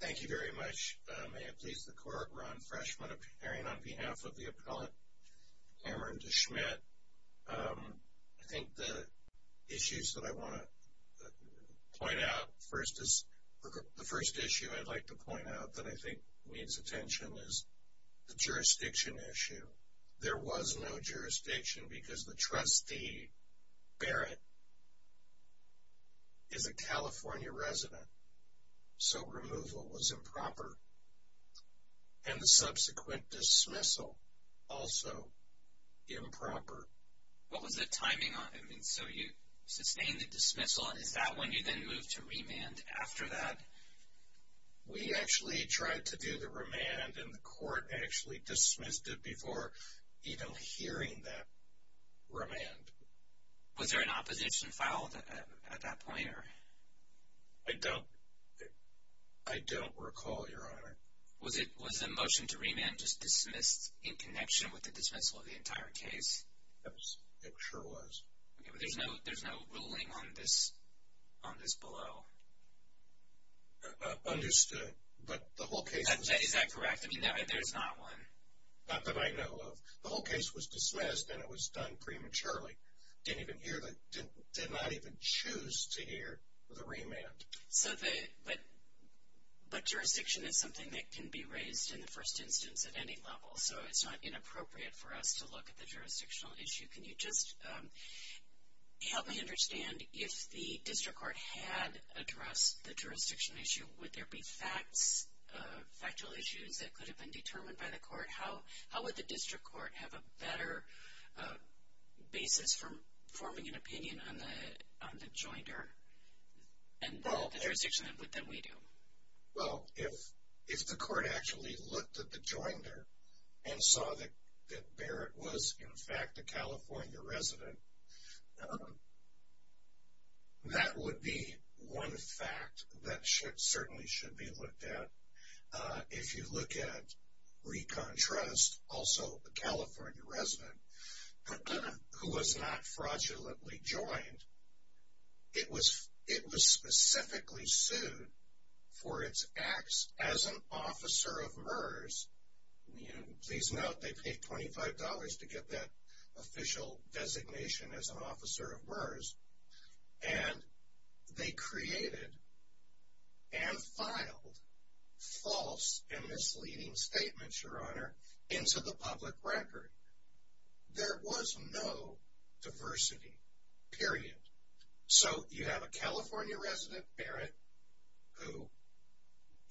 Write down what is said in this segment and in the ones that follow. Thank you very much. May it please the court, Ron Freshman appearing on behalf of the appellant Cameron De Smidt. I think the issues that I want to point out first is, the first issue I'd like to point out that I think needs attention is the jurisdiction issue. There was no jurisdiction because the trustee, Barrett, is a California resident, so removal was improper. And the subsequent dismissal, also improper. What was the timing on it? So you sustained the dismissal, and is that when you then moved to remand after that? We actually tried to do the remand, and the court actually dismissed it before even hearing that remand. Was there an opposition filed at that point? I don't recall, Your Honor. Was the motion to remand just dismissed in connection with the dismissal of the entire case? Yes, it sure was. Okay, but there's no ruling on this below. Understood, but the whole case... Is that correct? I mean, there's not one. Not that I know of. The whole case was dismissed, and it was done prematurely. Did not even choose to hear the remand. But jurisdiction is something that can be raised in the first instance at any level, so it's not inappropriate for us to look at the jurisdictional issue. Can you just help me understand, if the district court had addressed the jurisdiction issue, would there be factual issues that could have been determined by the court? How would the district court have a better basis for forming an opinion on the joinder and the jurisdiction input than we do? Well, if the court actually looked at the joinder and saw that Barrett was, in fact, a California resident, that would be one fact that certainly should be looked at. If you look at Recon Trust, also a California resident who was not fraudulently joined, it was specifically sued for its acts as an officer of MERS. Please note, they paid $25 to get that official designation as an officer of MERS, and they created and filed false and misleading statements, Your Honor, into the public record. There was no diversity, period. So you have a California resident, Barrett, who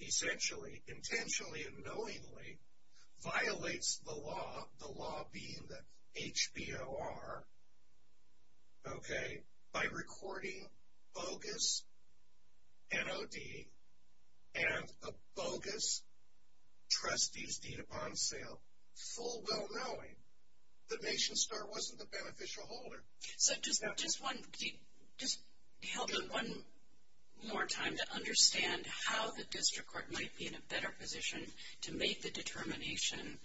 essentially, intentionally and knowingly, violates the law, the law being the HBOR, okay, by recording bogus NOD and a bogus trustee's deed upon sale, full well-knowing, the nation's star wasn't the beneficial holder. So just help me one more time to understand how the district court might be in a better position to make the determination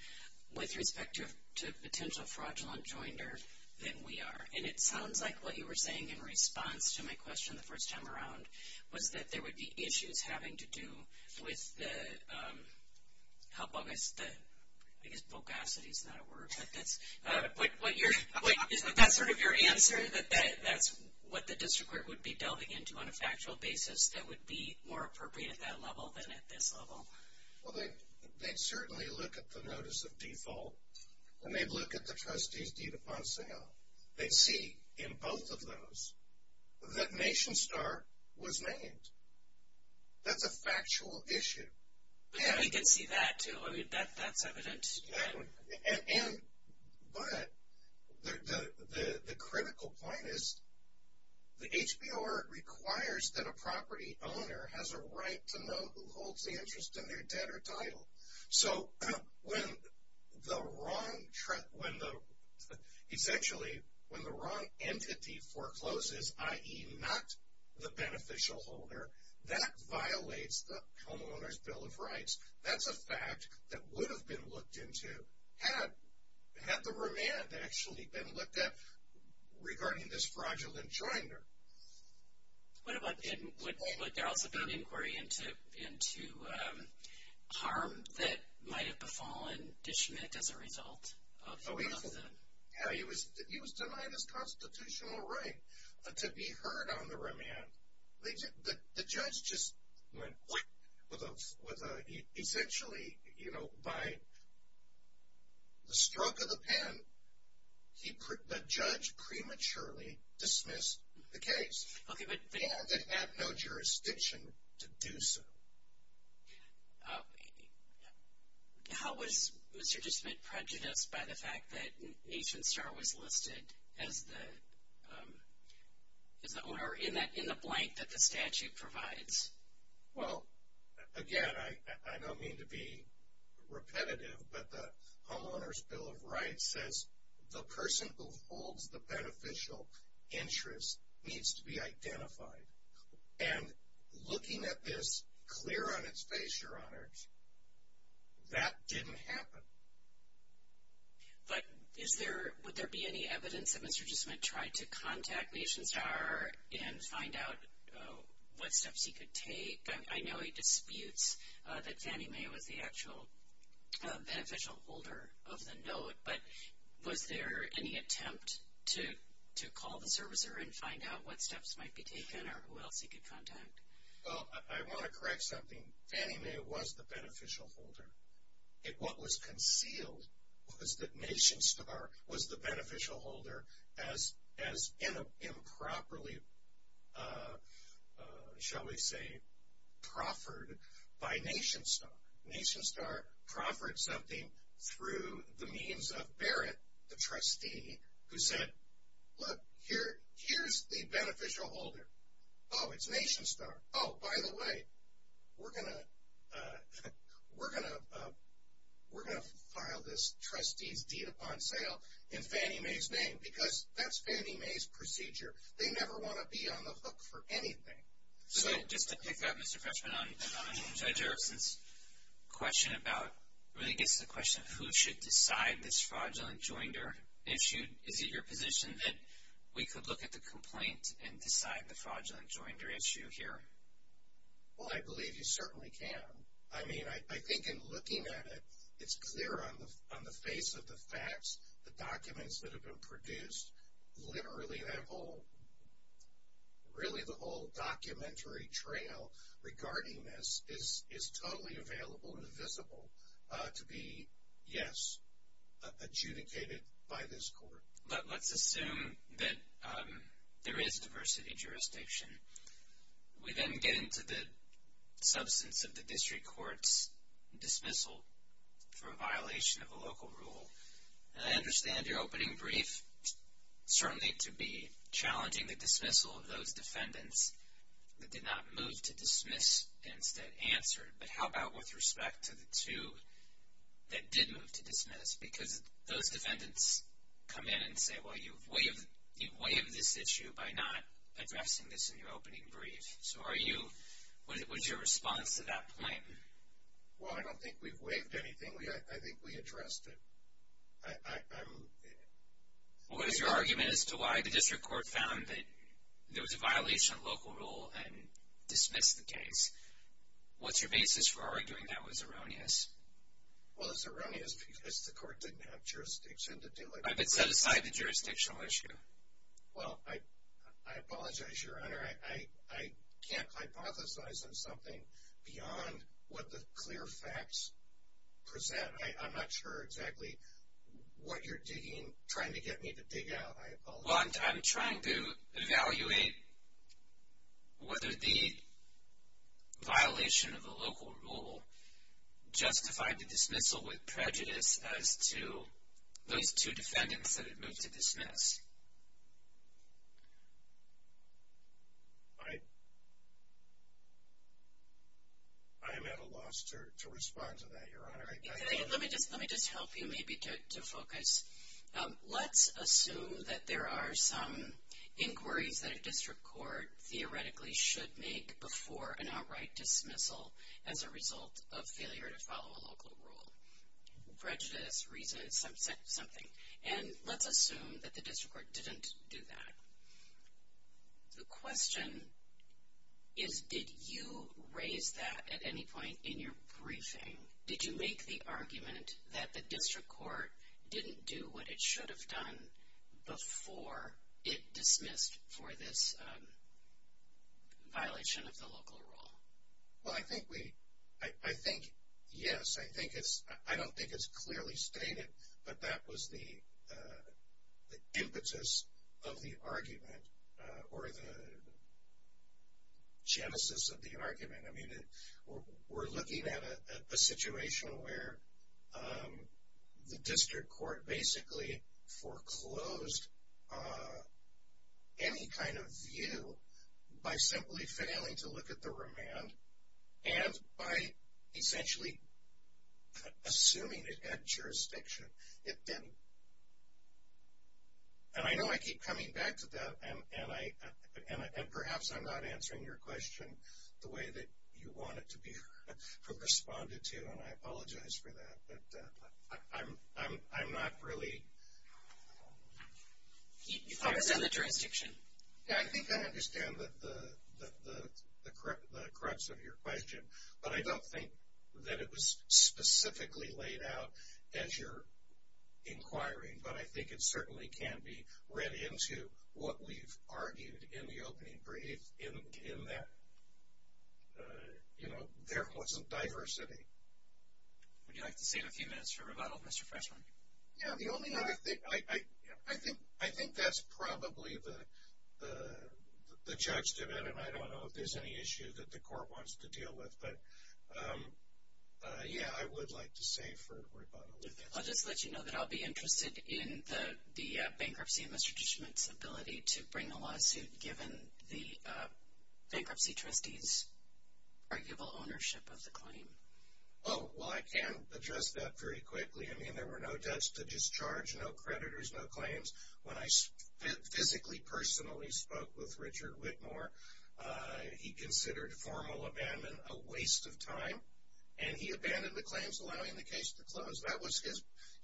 with respect to a potential fraudulent joinder than we are. And it sounds like what you were saying in response to my question the first time around was that there would be issues having to do with the, how bogus the, I guess bogacity is not a word, but is that sort of your answer, that that's what the district court would be delving into on a factual basis that would be more appropriate at that level than at this level? Well, they'd certainly look at the notice of default, and they'd look at the trustee's deed upon sale. They'd see in both of those that nation's star was named. That's a factual issue. Yeah, we did see that, too. I mean, that's evident. And, but the critical point is the HBOR requires that a property owner has a right to know who holds the interest in their debt or title. So, when the wrong, essentially, when the wrong entity forecloses, i.e. not the beneficial holder, that violates the homeowner's bill of rights. That's a fact that would have been looked into had the remand actually been looked at regarding this fraudulent joinder. What about, would there also be an inquiry into harm that might have befallen Ditchment as a result of that? Yeah, he was denied his constitutional right to be heard on the remand. The judge just went whack with a, essentially, you know, by the stroke of the pen, he, the judge prematurely dismissed the case. Okay, but. And, it had no jurisdiction to do so. How was Mr. Ditchment prejudiced by the fact that nation's star was listed as the, as the owner in the blank that the statute provides? Well, again, I don't mean to be repetitive, but the homeowner's bill of rights says the person who holds the beneficial interest needs to be identified. And, looking at this clear on its face, Your Honors, that didn't happen. But, is there, would there be any evidence that Mr. Ditchment tried to contact nation's star and find out what steps he could take? I know he disputes that Fannie Mae was the actual beneficial holder of the note, but was there any attempt to call the servicer and find out what steps might be taken or who else he could contact? Well, I want to correct something. Fannie Mae was the beneficial holder. What was concealed was that nation's star was the beneficial holder as improperly, shall we say, proffered by nation's star. Nation's star proffered something through the means of Barrett, the trustee, who said, look, here's the beneficial holder. Oh, it's nation's star. Oh, by the way, we're going to file this trustee's deed upon sale in Fannie Mae's name because that's Fannie Mae's procedure. They never want to be on the hook for anything. So, just to pick up, Mr. Fetchman, on Judge Erickson's question about, really gets to the question of who should decide this fraudulent joinder issue, is it your position that we could look at the complaint and decide the fraudulent joinder issue here? Well, I believe you certainly can. I mean, I think in looking at it, it's clear on the face of the facts, the documents that have been produced, literally that whole, really the whole documentary trail regarding this is totally available and visible to be, yes, adjudicated by this court. But let's assume that there is diversity jurisdiction. We then get into the substance of the district court's dismissal for a violation of a local rule. And I understand your opening brief, certainly to be challenging the dismissal of those defendants that did not move to dismiss and instead answered, but how about with respect to the two that did move to dismiss? Because those defendants come in and say, well, you've waived this issue by not addressing this in your opening brief. So, are you, what is your response to that point? Well, I don't think we've waived anything. I think we addressed it. What is your argument as to why the district court found that there was a violation of local rule and dismissed the case? What's your basis for arguing that was erroneous? Well, it's erroneous because the court didn't have jurisdiction to do it. I've been set aside the jurisdictional issue. Well, I apologize, Your Honor. I can't hypothesize on something beyond what the clear facts present. I'm not sure exactly what you're digging, trying to get me to dig out, I apologize. Well, I'm trying to evaluate whether the violation of the local rule justified the dismissal with prejudice as to those two defendants that had moved to dismiss. I am at a loss to respond to that, Your Honor. Let me just help you maybe to focus. Let's assume that there are some inquiries that a district court theoretically should make before an outright dismissal as a result of failure to follow a local rule. Prejudice reasons something. And let's assume that the district court didn't do that. The question is, did you raise that at any point in your briefing? Did you make the argument that the district court didn't do what it should have done before it dismissed for this violation of the local rule? Well, I think yes. I don't think it's clearly stated, but that was the impetus of the argument or the genesis of the argument. I mean, we're looking at a situation where the district court basically foreclosed any kind of view by simply failing to look at the remand and by essentially assuming it had jurisdiction. And I know I keep coming back to that, and perhaps I'm not answering your question the way that you want it to be responded to, and I apologize for that, but I'm not really... Focus on the jurisdiction. Yeah, I think I understand the crux of your question, but I don't think that it was specifically laid out as you're inquiring, but I think it certainly can be read into what we've argued in the opening brief in that, you know, there wasn't diversity. Would you like to save a few minutes for rebuttal, Mr. Freshman? Yeah, the only other thing... I think that's probably the judge to that, and I don't know if there's any issue that the court wants to deal with, but yeah, I would like to save for rebuttal with that. I'll just let you know that I'll be interested in the bankruptcy and Mr. Dishman's ability to bring a lawsuit given the bankruptcy trustee's arguable ownership of the claim. Oh, well, I can address that very quickly. I mean, there were no debts to discharge, no creditors, no claims. When I physically, personally spoke with Richard Whitmore, he considered formal abandon a waste of time, and he abandoned the claims, allowing the case to close. That was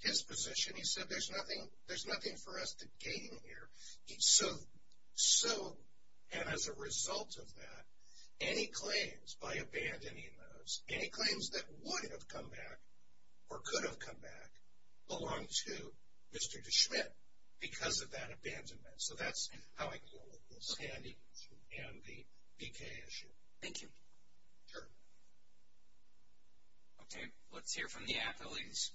his position. He said, there's nothing for us to gain here. So, and as a result of that, any claims by abandoning those, any claims that would have come back or could have come back belong to Mr. Dishman because of that abandonment. So, that's how I deal with this and the BK issue. Thank you. Sure. Okay, let's hear from the appellees.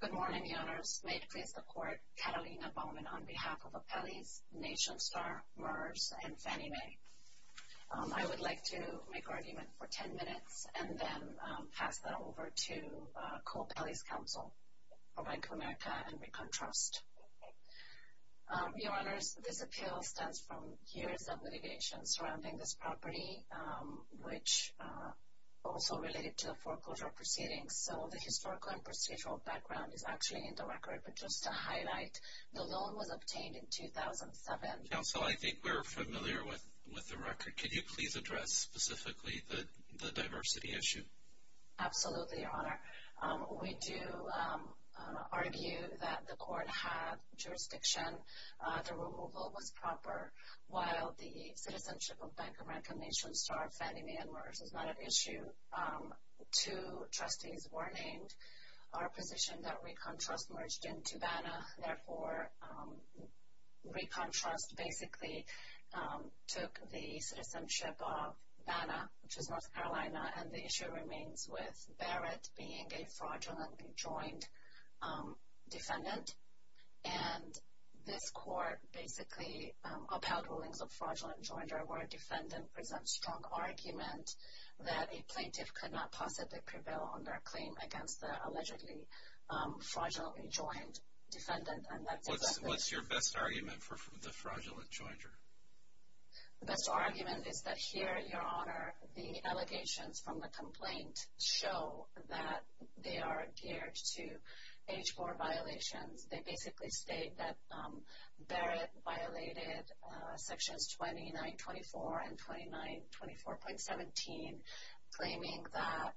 Good morning, Your Honors. May it please the court, Catalina Bowman on behalf of Appellees, NationStar, MERS, and Fannie Mae. I would like to make argument for ten minutes and then pass that over to Cole Pelley's counsel for Bank of America and ReconTrust. Your Honors, this appeal stands from years of litigation surrounding this property, which also related to foreclosure proceedings. So, the historical and procedural background is actually in the record. But just to highlight, the loan was obtained in 2007. Counsel, I think we're familiar with the record. Could you please address specifically the diversity issue? Absolutely, Your Honor. We do argue that the court had jurisdiction, the removal was proper, while the citizenship of Bank of America, NationStar, Fannie Mae, and MERS is not an issue. Two trustees were named. Our position that ReconTrust merged into BANA. Therefore, ReconTrust basically took the citizenship of BANA, which is North Carolina, and the issue remains with Barrett being a fraudulently joined defendant. And this court basically upheld rulings of fraudulent joinder where a defendant presents strong argument that a plaintiff could not possibly prevail on their claim against the allegedly fraudulently joined defendant. What's your best argument for the fraudulent joinder? The best argument is that here, Your Honor, the allegations from the complaint show that they are geared to H-4 violations. They basically state that Barrett violated Sections 2924 and 2924.17, claiming that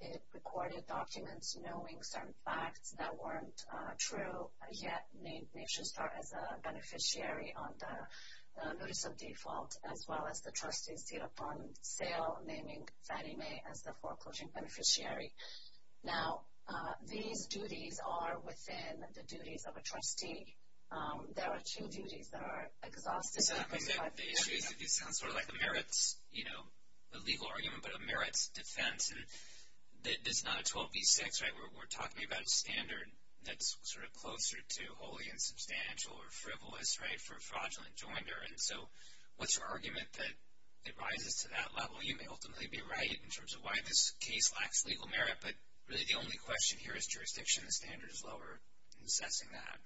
it recorded documents knowing certain facts that weren't true, yet named NationStar as a beneficiary on the notice of default, as well as the trustees seat upon sale naming Fannie Mae as the foreclosure beneficiary. Now, these duties are within the duties of a trustee. There are two duties that are exhausted. The issue is that this sounds sort of like a merits, you know, a legal argument, but a merits defense. This is not a 12b-6, right? We're talking about a standard that's sort of closer to wholly insubstantial or frivolous, right, for fraudulent joinder. And so what's your argument that it rises to that level? You know, you may ultimately be right in terms of why this case lacks legal merit, but really the only question here is jurisdiction. The standard is lower in assessing that.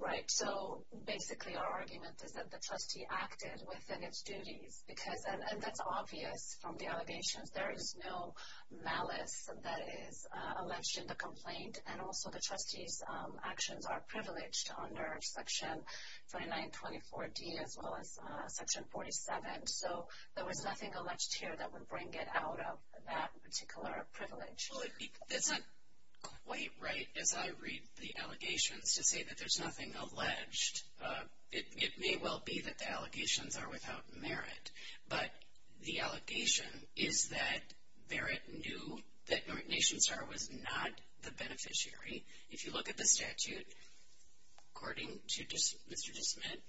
Right. So basically our argument is that the trustee acted within its duties, and that's obvious from the allegations. There is no malice that is alleged in the complaint, and also the trustee's actions are privileged under Section 2924D as well as Section 47. So there was nothing alleged here that would bring it out of that particular privilege. Well, it's not quite right, as I read the allegations, to say that there's nothing alleged. It may well be that the allegations are without merit, but the allegation is that Barrett knew that North Nation Star was not the beneficiary. If you look at the statute, according to Mr. DeSmit,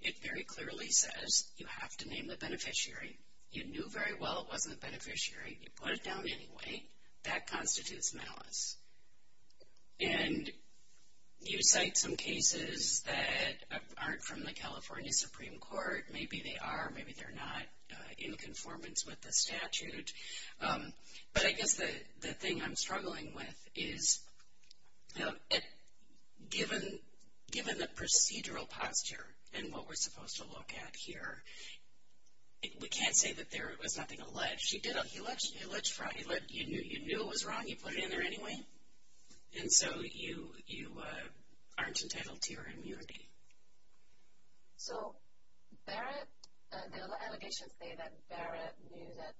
it very clearly says you have to name the beneficiary. You knew very well it wasn't the beneficiary. You put it down anyway. That constitutes malice. And you cite some cases that aren't from the California Supreme Court. Maybe they are. Maybe they're not in conformance with the statute. But I guess the thing I'm struggling with is, you know, given the procedural posture and what we're supposed to look at here, we can't say that there was nothing alleged. You knew it was wrong. You put it in there anyway. And so you aren't entitled to your immunity. So Barrett, the allegations say that Barrett knew that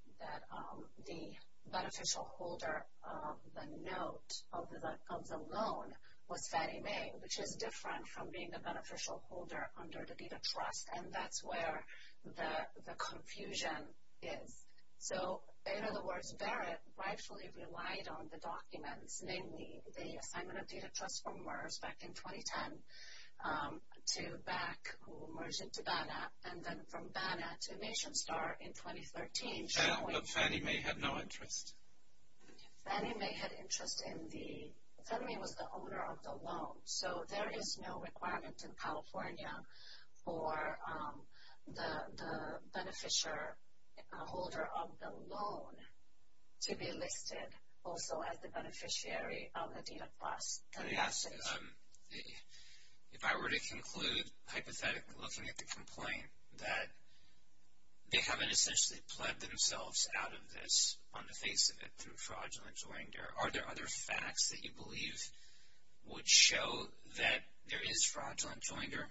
the beneficial holder of the note, of the loan, was Fannie Mae, which is different from being the beneficial holder under the Data Trust. And that's where the confusion is. So, in other words, Barrett rightfully relied on the documents, namely the assignment of Data Trust from MERS back in 2010 to BAC, who merged into BANAP, and then from BANAP to Nation Star in 2013. But Fannie Mae had no interest. Fannie Mae had interest in the, Fannie Mae was the owner of the loan. So there is no requirement in California for the beneficial holder of the loan to be listed also as the beneficiary of the Data Trust. Yes. If I were to conclude, hypothetically looking at the complaint, that they haven't essentially pled themselves out of this on the face of it through fraudulence or anger, are there other facts that you believe would show that there is fraudulent joinder?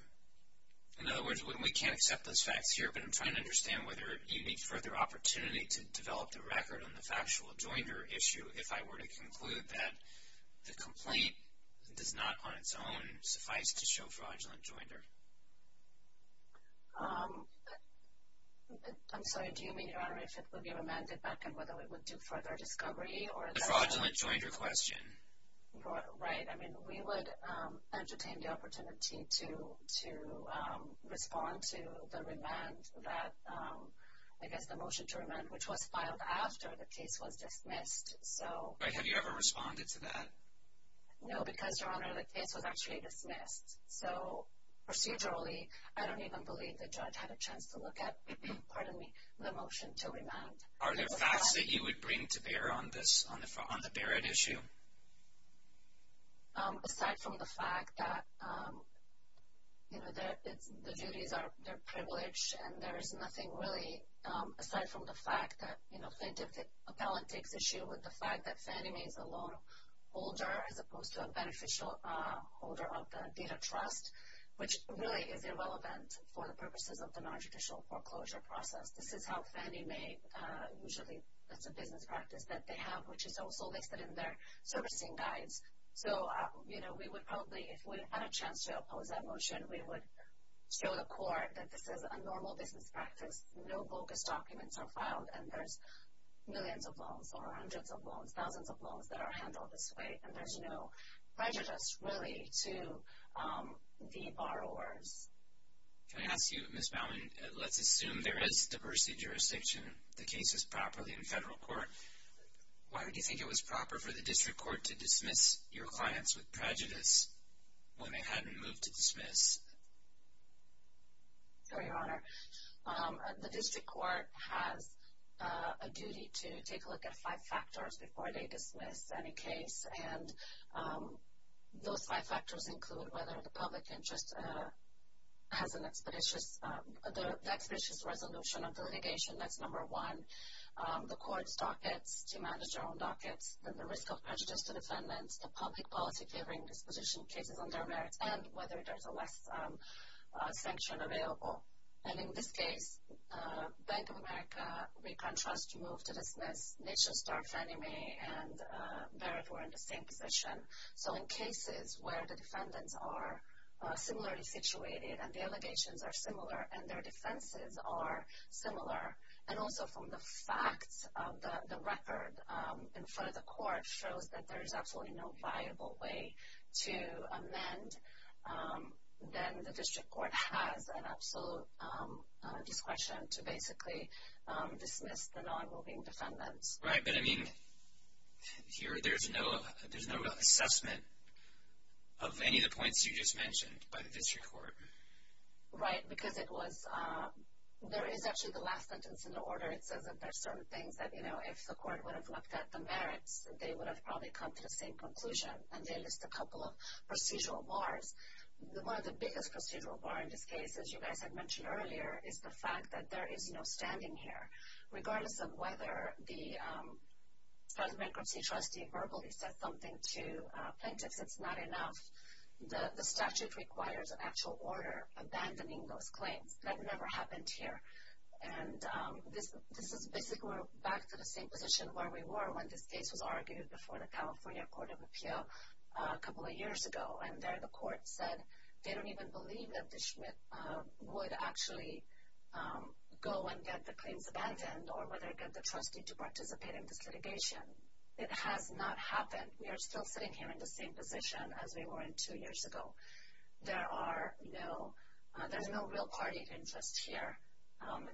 In other words, we can't accept those facts here, but I'm trying to understand whether you need further opportunity to develop the record on the factual joinder issue if I were to conclude that the complaint does not on its own suffice to show fraudulent joinder. I'm sorry, do you mean, Your Honor, if it would be remanded back and whether it would do further discovery? The fraudulent joinder question. Right. I mean, we would entertain the opportunity to respond to the remand that, I guess, the motion to remand, which was filed after the case was dismissed. Have you ever responded to that? No, because, Your Honor, the case was actually dismissed. So procedurally, I don't even believe the judge had a chance to look at, pardon me, the motion to remand. Are there facts that you would bring to bear on the Barrett issue? Aside from the fact that, you know, the duties are privileged, and there is nothing really aside from the fact that, you know, plaintiff appellant takes issue with the fact that Fannie Mae is a loan holder as opposed to a beneficial holder of the data trust, which really is irrelevant for the purposes of the nonjudicial foreclosure process. This is how Fannie Mae usually, that's a business practice that they have, which is also listed in their servicing guides. So, you know, we would probably, if we had a chance to oppose that motion, we would show the court that this is a normal business practice. No bogus documents are filed, and there's millions of loans or hundreds of loans, thousands of loans that are handled this way, and there's no prejudice, really, to the borrowers. Can I ask you, Ms. Bowman, let's assume there is diversity jurisdiction. The case is properly in federal court. Why would you think it was proper for the district court to dismiss your clients with prejudice when they hadn't moved to dismiss? Your Honor, the district court has a duty to take a look at five factors before they dismiss any case, and those five factors include whether the public interest has an expeditious resolution of the litigation, that's number one, the court's dockets to manage their own dockets, and the risk of prejudice to defendants, the public policy favoring disposition cases on their merits, and whether there's a less sanction available. And in this case, Bank of America, Recon Trust moved to dismiss. Nation Star, Fannie Mae, and Barrett were in the same position. So in cases where the defendants are similarly situated and the allegations are similar and their defenses are similar, and also from the facts, the record in front of the court shows that there is absolutely no viable way to amend, then the district court has an absolute discretion to basically dismiss the non-moving defendants. Right, but I mean, there's no assessment of any of the points you just mentioned by the district court. Right, because there is actually the last sentence in the order. It says that there are certain things that if the court would have looked at the merits, they would have probably come to the same conclusion. And they list a couple of procedural bars. One of the biggest procedural bars in this case, as you guys had mentioned earlier, is the fact that there is no standing here. Regardless of whether the trustee verbally says something to plaintiffs, it's not enough. The statute requires an actual order abandoning those claims. That never happened here. And this is basically back to the same position where we were when this case was argued before the California Court of Appeal a couple of years ago. And there the court said they don't even believe that the Schmidt would actually go and get the claims abandoned or whether it got the trustee to participate in this litigation. It has not happened. We are still sitting here in the same position as we were two years ago. There is no real party interest here.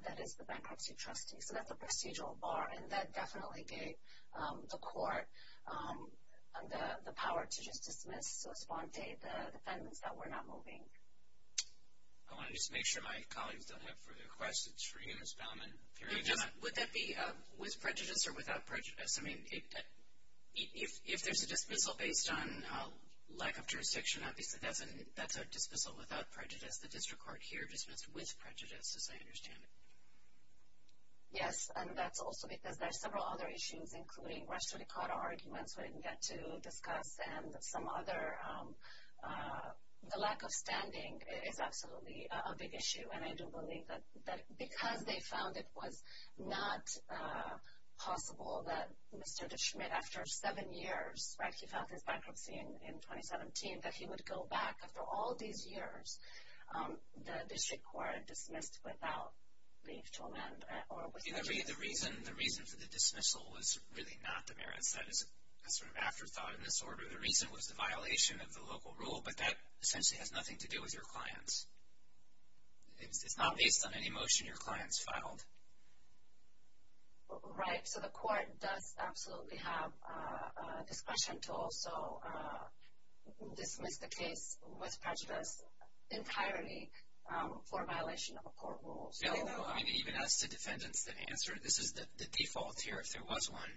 That is the bankruptcy trustee. So that's the procedural bar. And that definitely gave the court the power to just dismiss, so esponte, the defendants that were not moving. I want to just make sure my colleagues don't have further questions for you, Ms. Bauman. Would that be with prejudice or without prejudice? I mean, if there's a dismissal based on lack of jurisdiction, obviously that's a dismissal without prejudice. The district court here dismissed with prejudice, as I understand it. Yes, and that's also because there are several other issues, including rest of the court arguments we didn't get to discuss and some other. The lack of standing is absolutely a big issue. And I do believe that because they found it was not possible that Mr. DeSchmidt, after seven years, right, he filed his bankruptcy in 2017, that he would go back after all these years, the district court dismissed without leave to amend or without prejudice. The reason for the dismissal was really not the merits. That is a sort of afterthought in this order. The reason was the violation of the local rule, but that essentially has nothing to do with your clients. It's not based on any motion your clients filed. Right. So the court does absolutely have discretion to also dismiss the case with prejudice entirely for violation of a court rule. Even as to defendants that answer, this is the default here. If there was one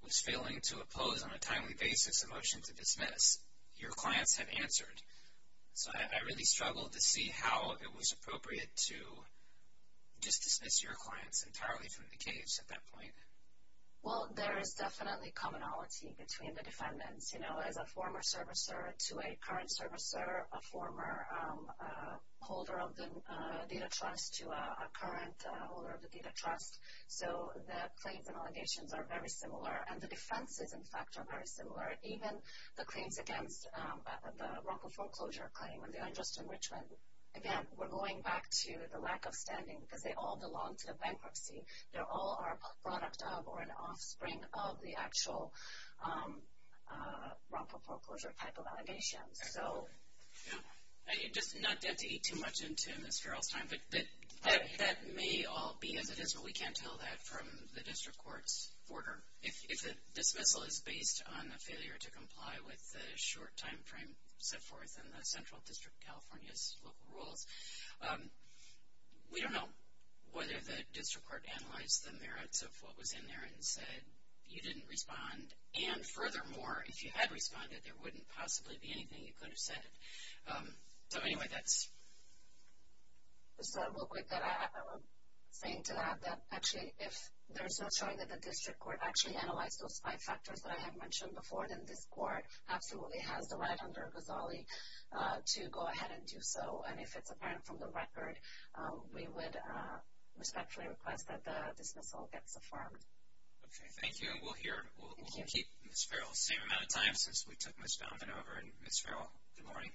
who was failing to oppose on a timely basis a motion to dismiss, your clients have answered. So I really struggled to see how it was appropriate to just dismiss your clients entirely from the case at that point. Well, there is definitely commonality between the defendants, you know, as a former servicer to a current servicer, a former holder of the data trust to a current holder of the data trust. So the claims and allegations are very similar. And the defenses, in fact, are very similar. Even the claims against the wrongful foreclosure claim and the unjust enrichment, again, we're going back to the lack of standing because they all belong to the bankruptcy. They all are a product of or an offspring of the actual wrongful foreclosure type of allegations. Just not to eat too much into Ms. Farrell's time, but that may all be as it is, but we can't tell that from the district court's order. If the dismissal is based on a failure to comply with the short time frame, so forth, and the Central District of California's local rules, we don't know whether the district court analyzed the merits of what was in there and said you didn't respond. And furthermore, if you had responded, there wouldn't possibly be anything. You could have said it. So, anyway, that's... Just real quick that I'm saying to that, that actually if there's no showing that the district court actually analyzed those five factors that I had mentioned before, then this court absolutely has the right under Ghazali to go ahead and do so. And if it's apparent from the record, we would respectfully request that the dismissal gets affirmed. Okay, thank you. We'll keep Ms. Farrell the same amount of time since we took Ms. Baumann over. And, Ms. Farrell, good morning.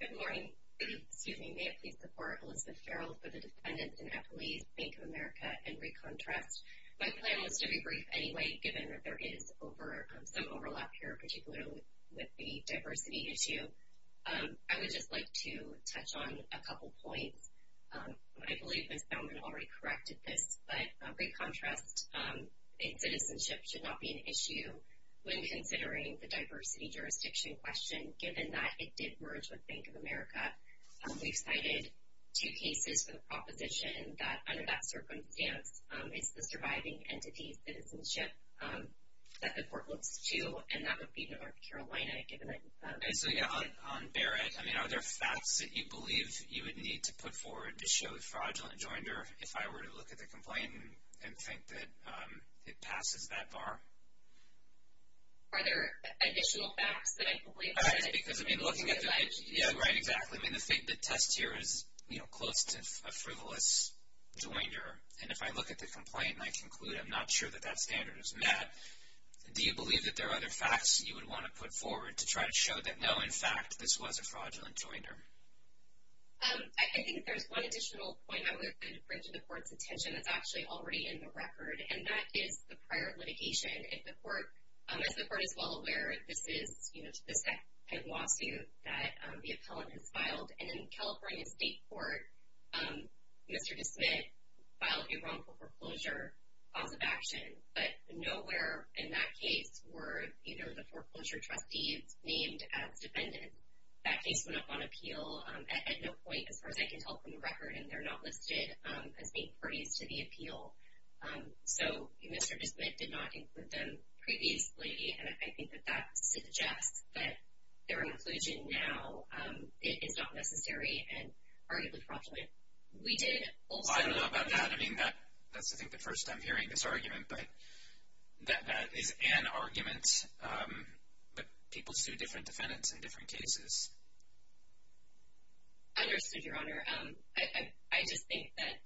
Good morning. May I please support Elizabeth Farrell for the defendant in Appalachian Bank of America and recontrast? My plan was to be brief anyway, given that there is some overlap here, particularly with the diversity issue. I would just like to touch on a couple points. I believe Ms. Baumann already corrected this, but recontrast in citizenship should not be an issue when considering the diversity jurisdiction question, given that it did merge with Bank of America. We've cited two cases for the proposition that, under that circumstance, it's the surviving entity's citizenship that the court looks to, and that would be North Carolina, given that... And so, yeah, on Barrett, I mean, are there facts that you believe you would need to put forward to show the fraudulent joinder, if I were to look at the complaint and think that it passes that bar? Are there additional facts that I believe... Because, I mean, looking at... Yeah, right, exactly. I mean, the test here is, you know, close to a frivolous joinder, and if I look at the complaint and I conclude I'm not sure that that standard is met, do you believe that there are other facts you would want to put forward to try to show that, no, in fact, this was a fraudulent joinder? I think there's one additional point I would bring to the court's attention that's actually already in the record, and that is the prior litigation. If the court... As the court is well aware, this is, you know, this kind of lawsuit that the appellant has filed, and in the California State Court, Mr. DeSmit filed a wrongful foreclosure cause of action, but nowhere in that case were either of the foreclosure trustees named as defendant. That case went up on appeal at no point, as far as I can tell from the record, and they're not listed as main parties to the appeal. So Mr. DeSmit did not include them previously, and I think that that suggests that their inclusion now is not necessary and arguably fraudulent. We did also... I don't know about that. I mean, that's, I think, the first time hearing this argument, but that is an argument, but people sue different defendants in different cases. Understood, Your Honor. I just think that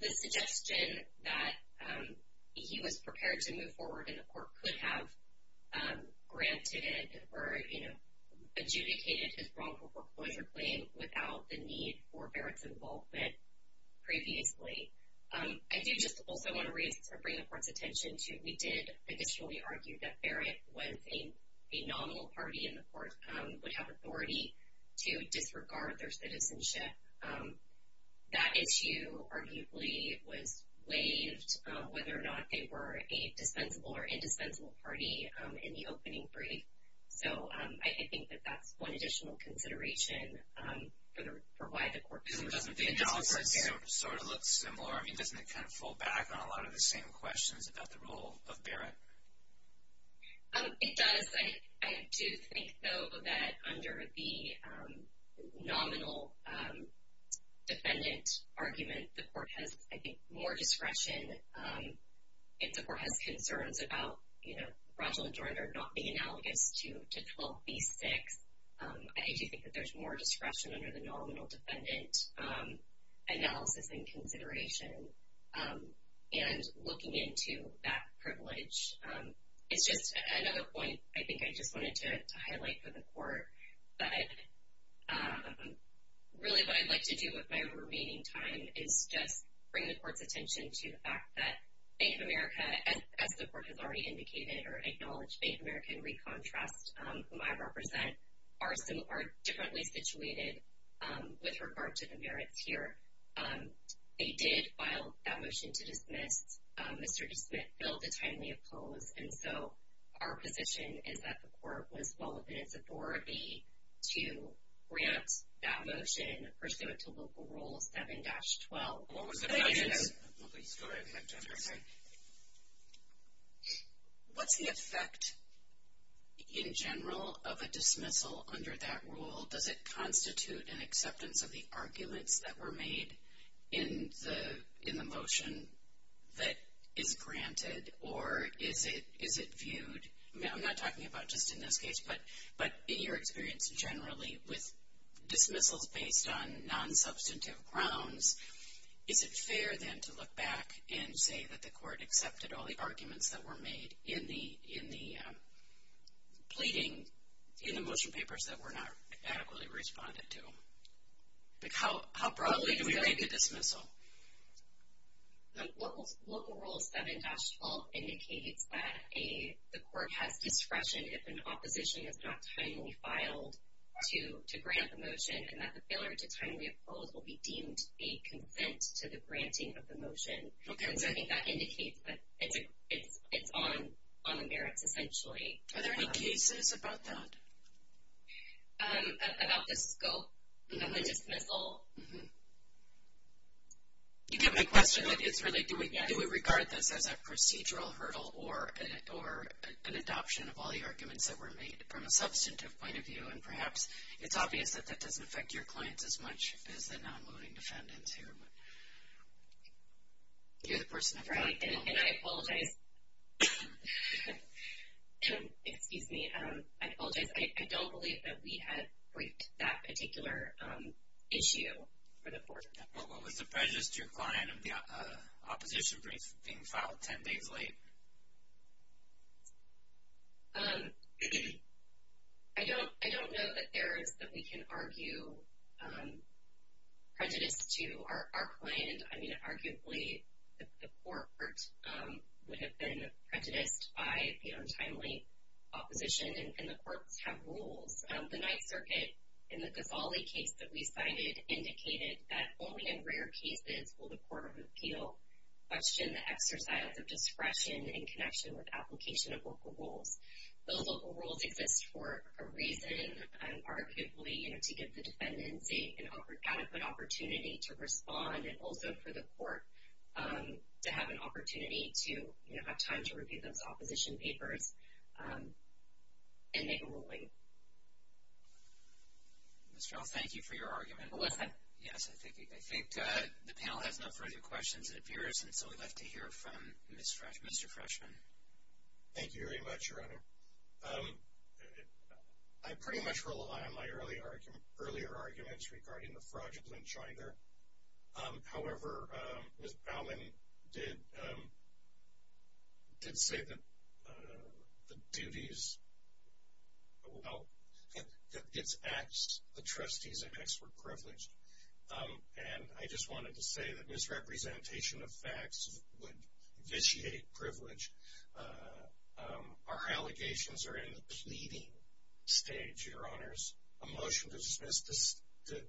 the suggestion that he was prepared to move forward in the court could have granted it or, you know, adjudicated his wrongful foreclosure claim without the need for Barrett's involvement previously. I do just also want to bring the court's attention to we did initially argue that Barrett was a nominal party in the court, would have authority to disregard their citizenship. That issue arguably was waived, whether or not they were a dispensable or indispensable party in the opening brief. So I think that that's one additional consideration for why the court... Doesn't the analysis sort of look similar? I mean, doesn't it kind of fall back on a lot of the same questions about the role of Barrett? It does. I do think, though, that under the nominal defendant argument, the court has, I think, more discretion. If the court has concerns about, you know, Rogel and Joyner not being analogous to 12b-6, I do think that there's more discretion under the nominal defendant analysis and consideration. And looking into that privilege is just another point I think I just wanted to highlight for the court. But really what I'd like to do with my remaining time is just bring the court's attention to the fact that Bank of America, as the court has already indicated or acknowledged, Bank of America and Recon Trust, whom I represent, are differently situated with regard to the merits here. They did file that motion to dismiss. Mr. DeSmit billed a timely oppose. And so our position is that the court was well within its authority to grant that motion pursuant to Local Rule 7-12. What was the... What's the effect, in general, of a dismissal under that rule? Does it constitute an acceptance of the arguments that were made in the motion that is granted? Or is it viewed? I'm not talking about just in this case, but in your experience generally, with dismissals based on non-substantive grounds, is it fair then to look back and say that the court accepted all the arguments that were made in the pleading, in the motion papers that were not adequately responded to? How broadly do we rank a dismissal? Local Rule 7-12 indicates that the court has discretion if an opposition is not timely filed to grant the motion and that the failure to timely oppose will be deemed a consent to the granting of the motion. Okay. Because I think that indicates that it's on the merits, essentially. Are there any cases about that? About the scope of the dismissal? Mm-hmm. You get my question that it's really, do we regard this as a procedural hurdle or an adoption of all the arguments that were made from a substantive point of view? And perhaps it's obvious that that doesn't affect your clients as much as the non-voting defendants here, but you're the person I've got. And I apologize. Excuse me. I apologize. I don't believe that we had briefed that particular issue for the court. What was the prejudice to your client of the opposition being filed ten days late? I don't know that there is that we can argue prejudice to our client. I mean, arguably, the court would have been prejudiced by the untimely opposition, and the courts have rules. The Ninth Circuit, in the Ghazali case that we cited, indicated that only in rare cases will the court of appeal question the exercise of discretion in connection with application of local rules. Those local rules exist for a reason, arguably, to give the defendants an adequate opportunity to respond, and also for the court to have an opportunity to have time to review those opposition papers and make a ruling. Ms. Feld, thank you for your argument. Yes, I think the panel has no further questions, it appears, and so we'd like to hear from Mr. Freshman. Thank you very much, Your Honor. I pretty much rely on my earlier arguments regarding the fraudulent chinder. However, Ms. Baumann did say that the duties, well, that its acts, the trustee's acts were privileged, and I just wanted to say that misrepresentation of facts would vitiate privilege. Our allegations are in the pleading stage, Your Honors. A motion to dismiss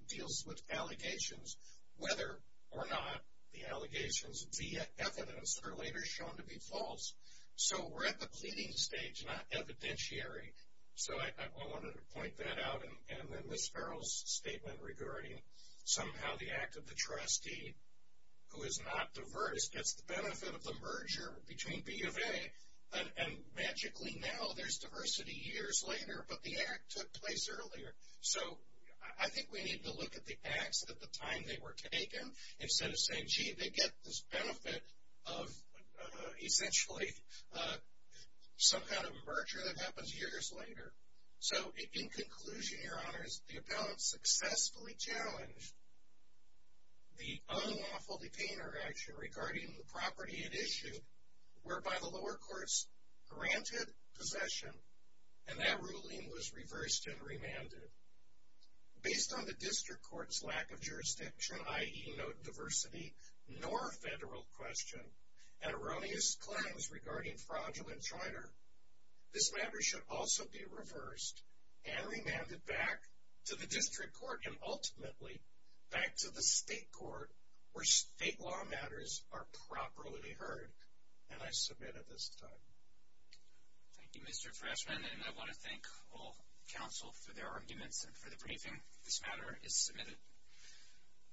deals with allegations, whether or not the allegations via evidence are later shown to be false. So we're at the pleading stage, not evidentiary. So I wanted to point that out. And then Ms. Farrell's statement regarding somehow the act of the trustee, who is not diverse, gets the benefit of the merger between B of A, and magically now there's diversity years later, but the act took place earlier. So I think we need to look at the acts at the time they were taken instead of saying, gee, they get this benefit of essentially some kind of merger that happens years later. So in conclusion, Your Honors, the appellant successfully challenged the unlawfully painted action regarding the property it issued, whereby the lower courts granted possession, and that ruling was reversed and remanded. Based on the district court's lack of jurisdiction, i.e. no diversity nor federal question, and erroneous claims regarding fraudulent charter, this matter should also be reversed and remanded back to the district court and ultimately back to the state court where state law matters are properly heard. And I submit at this time. Thank you, Mr. Freshman. And I want to thank all counsel for their arguments and for the briefing. This matter is submitted.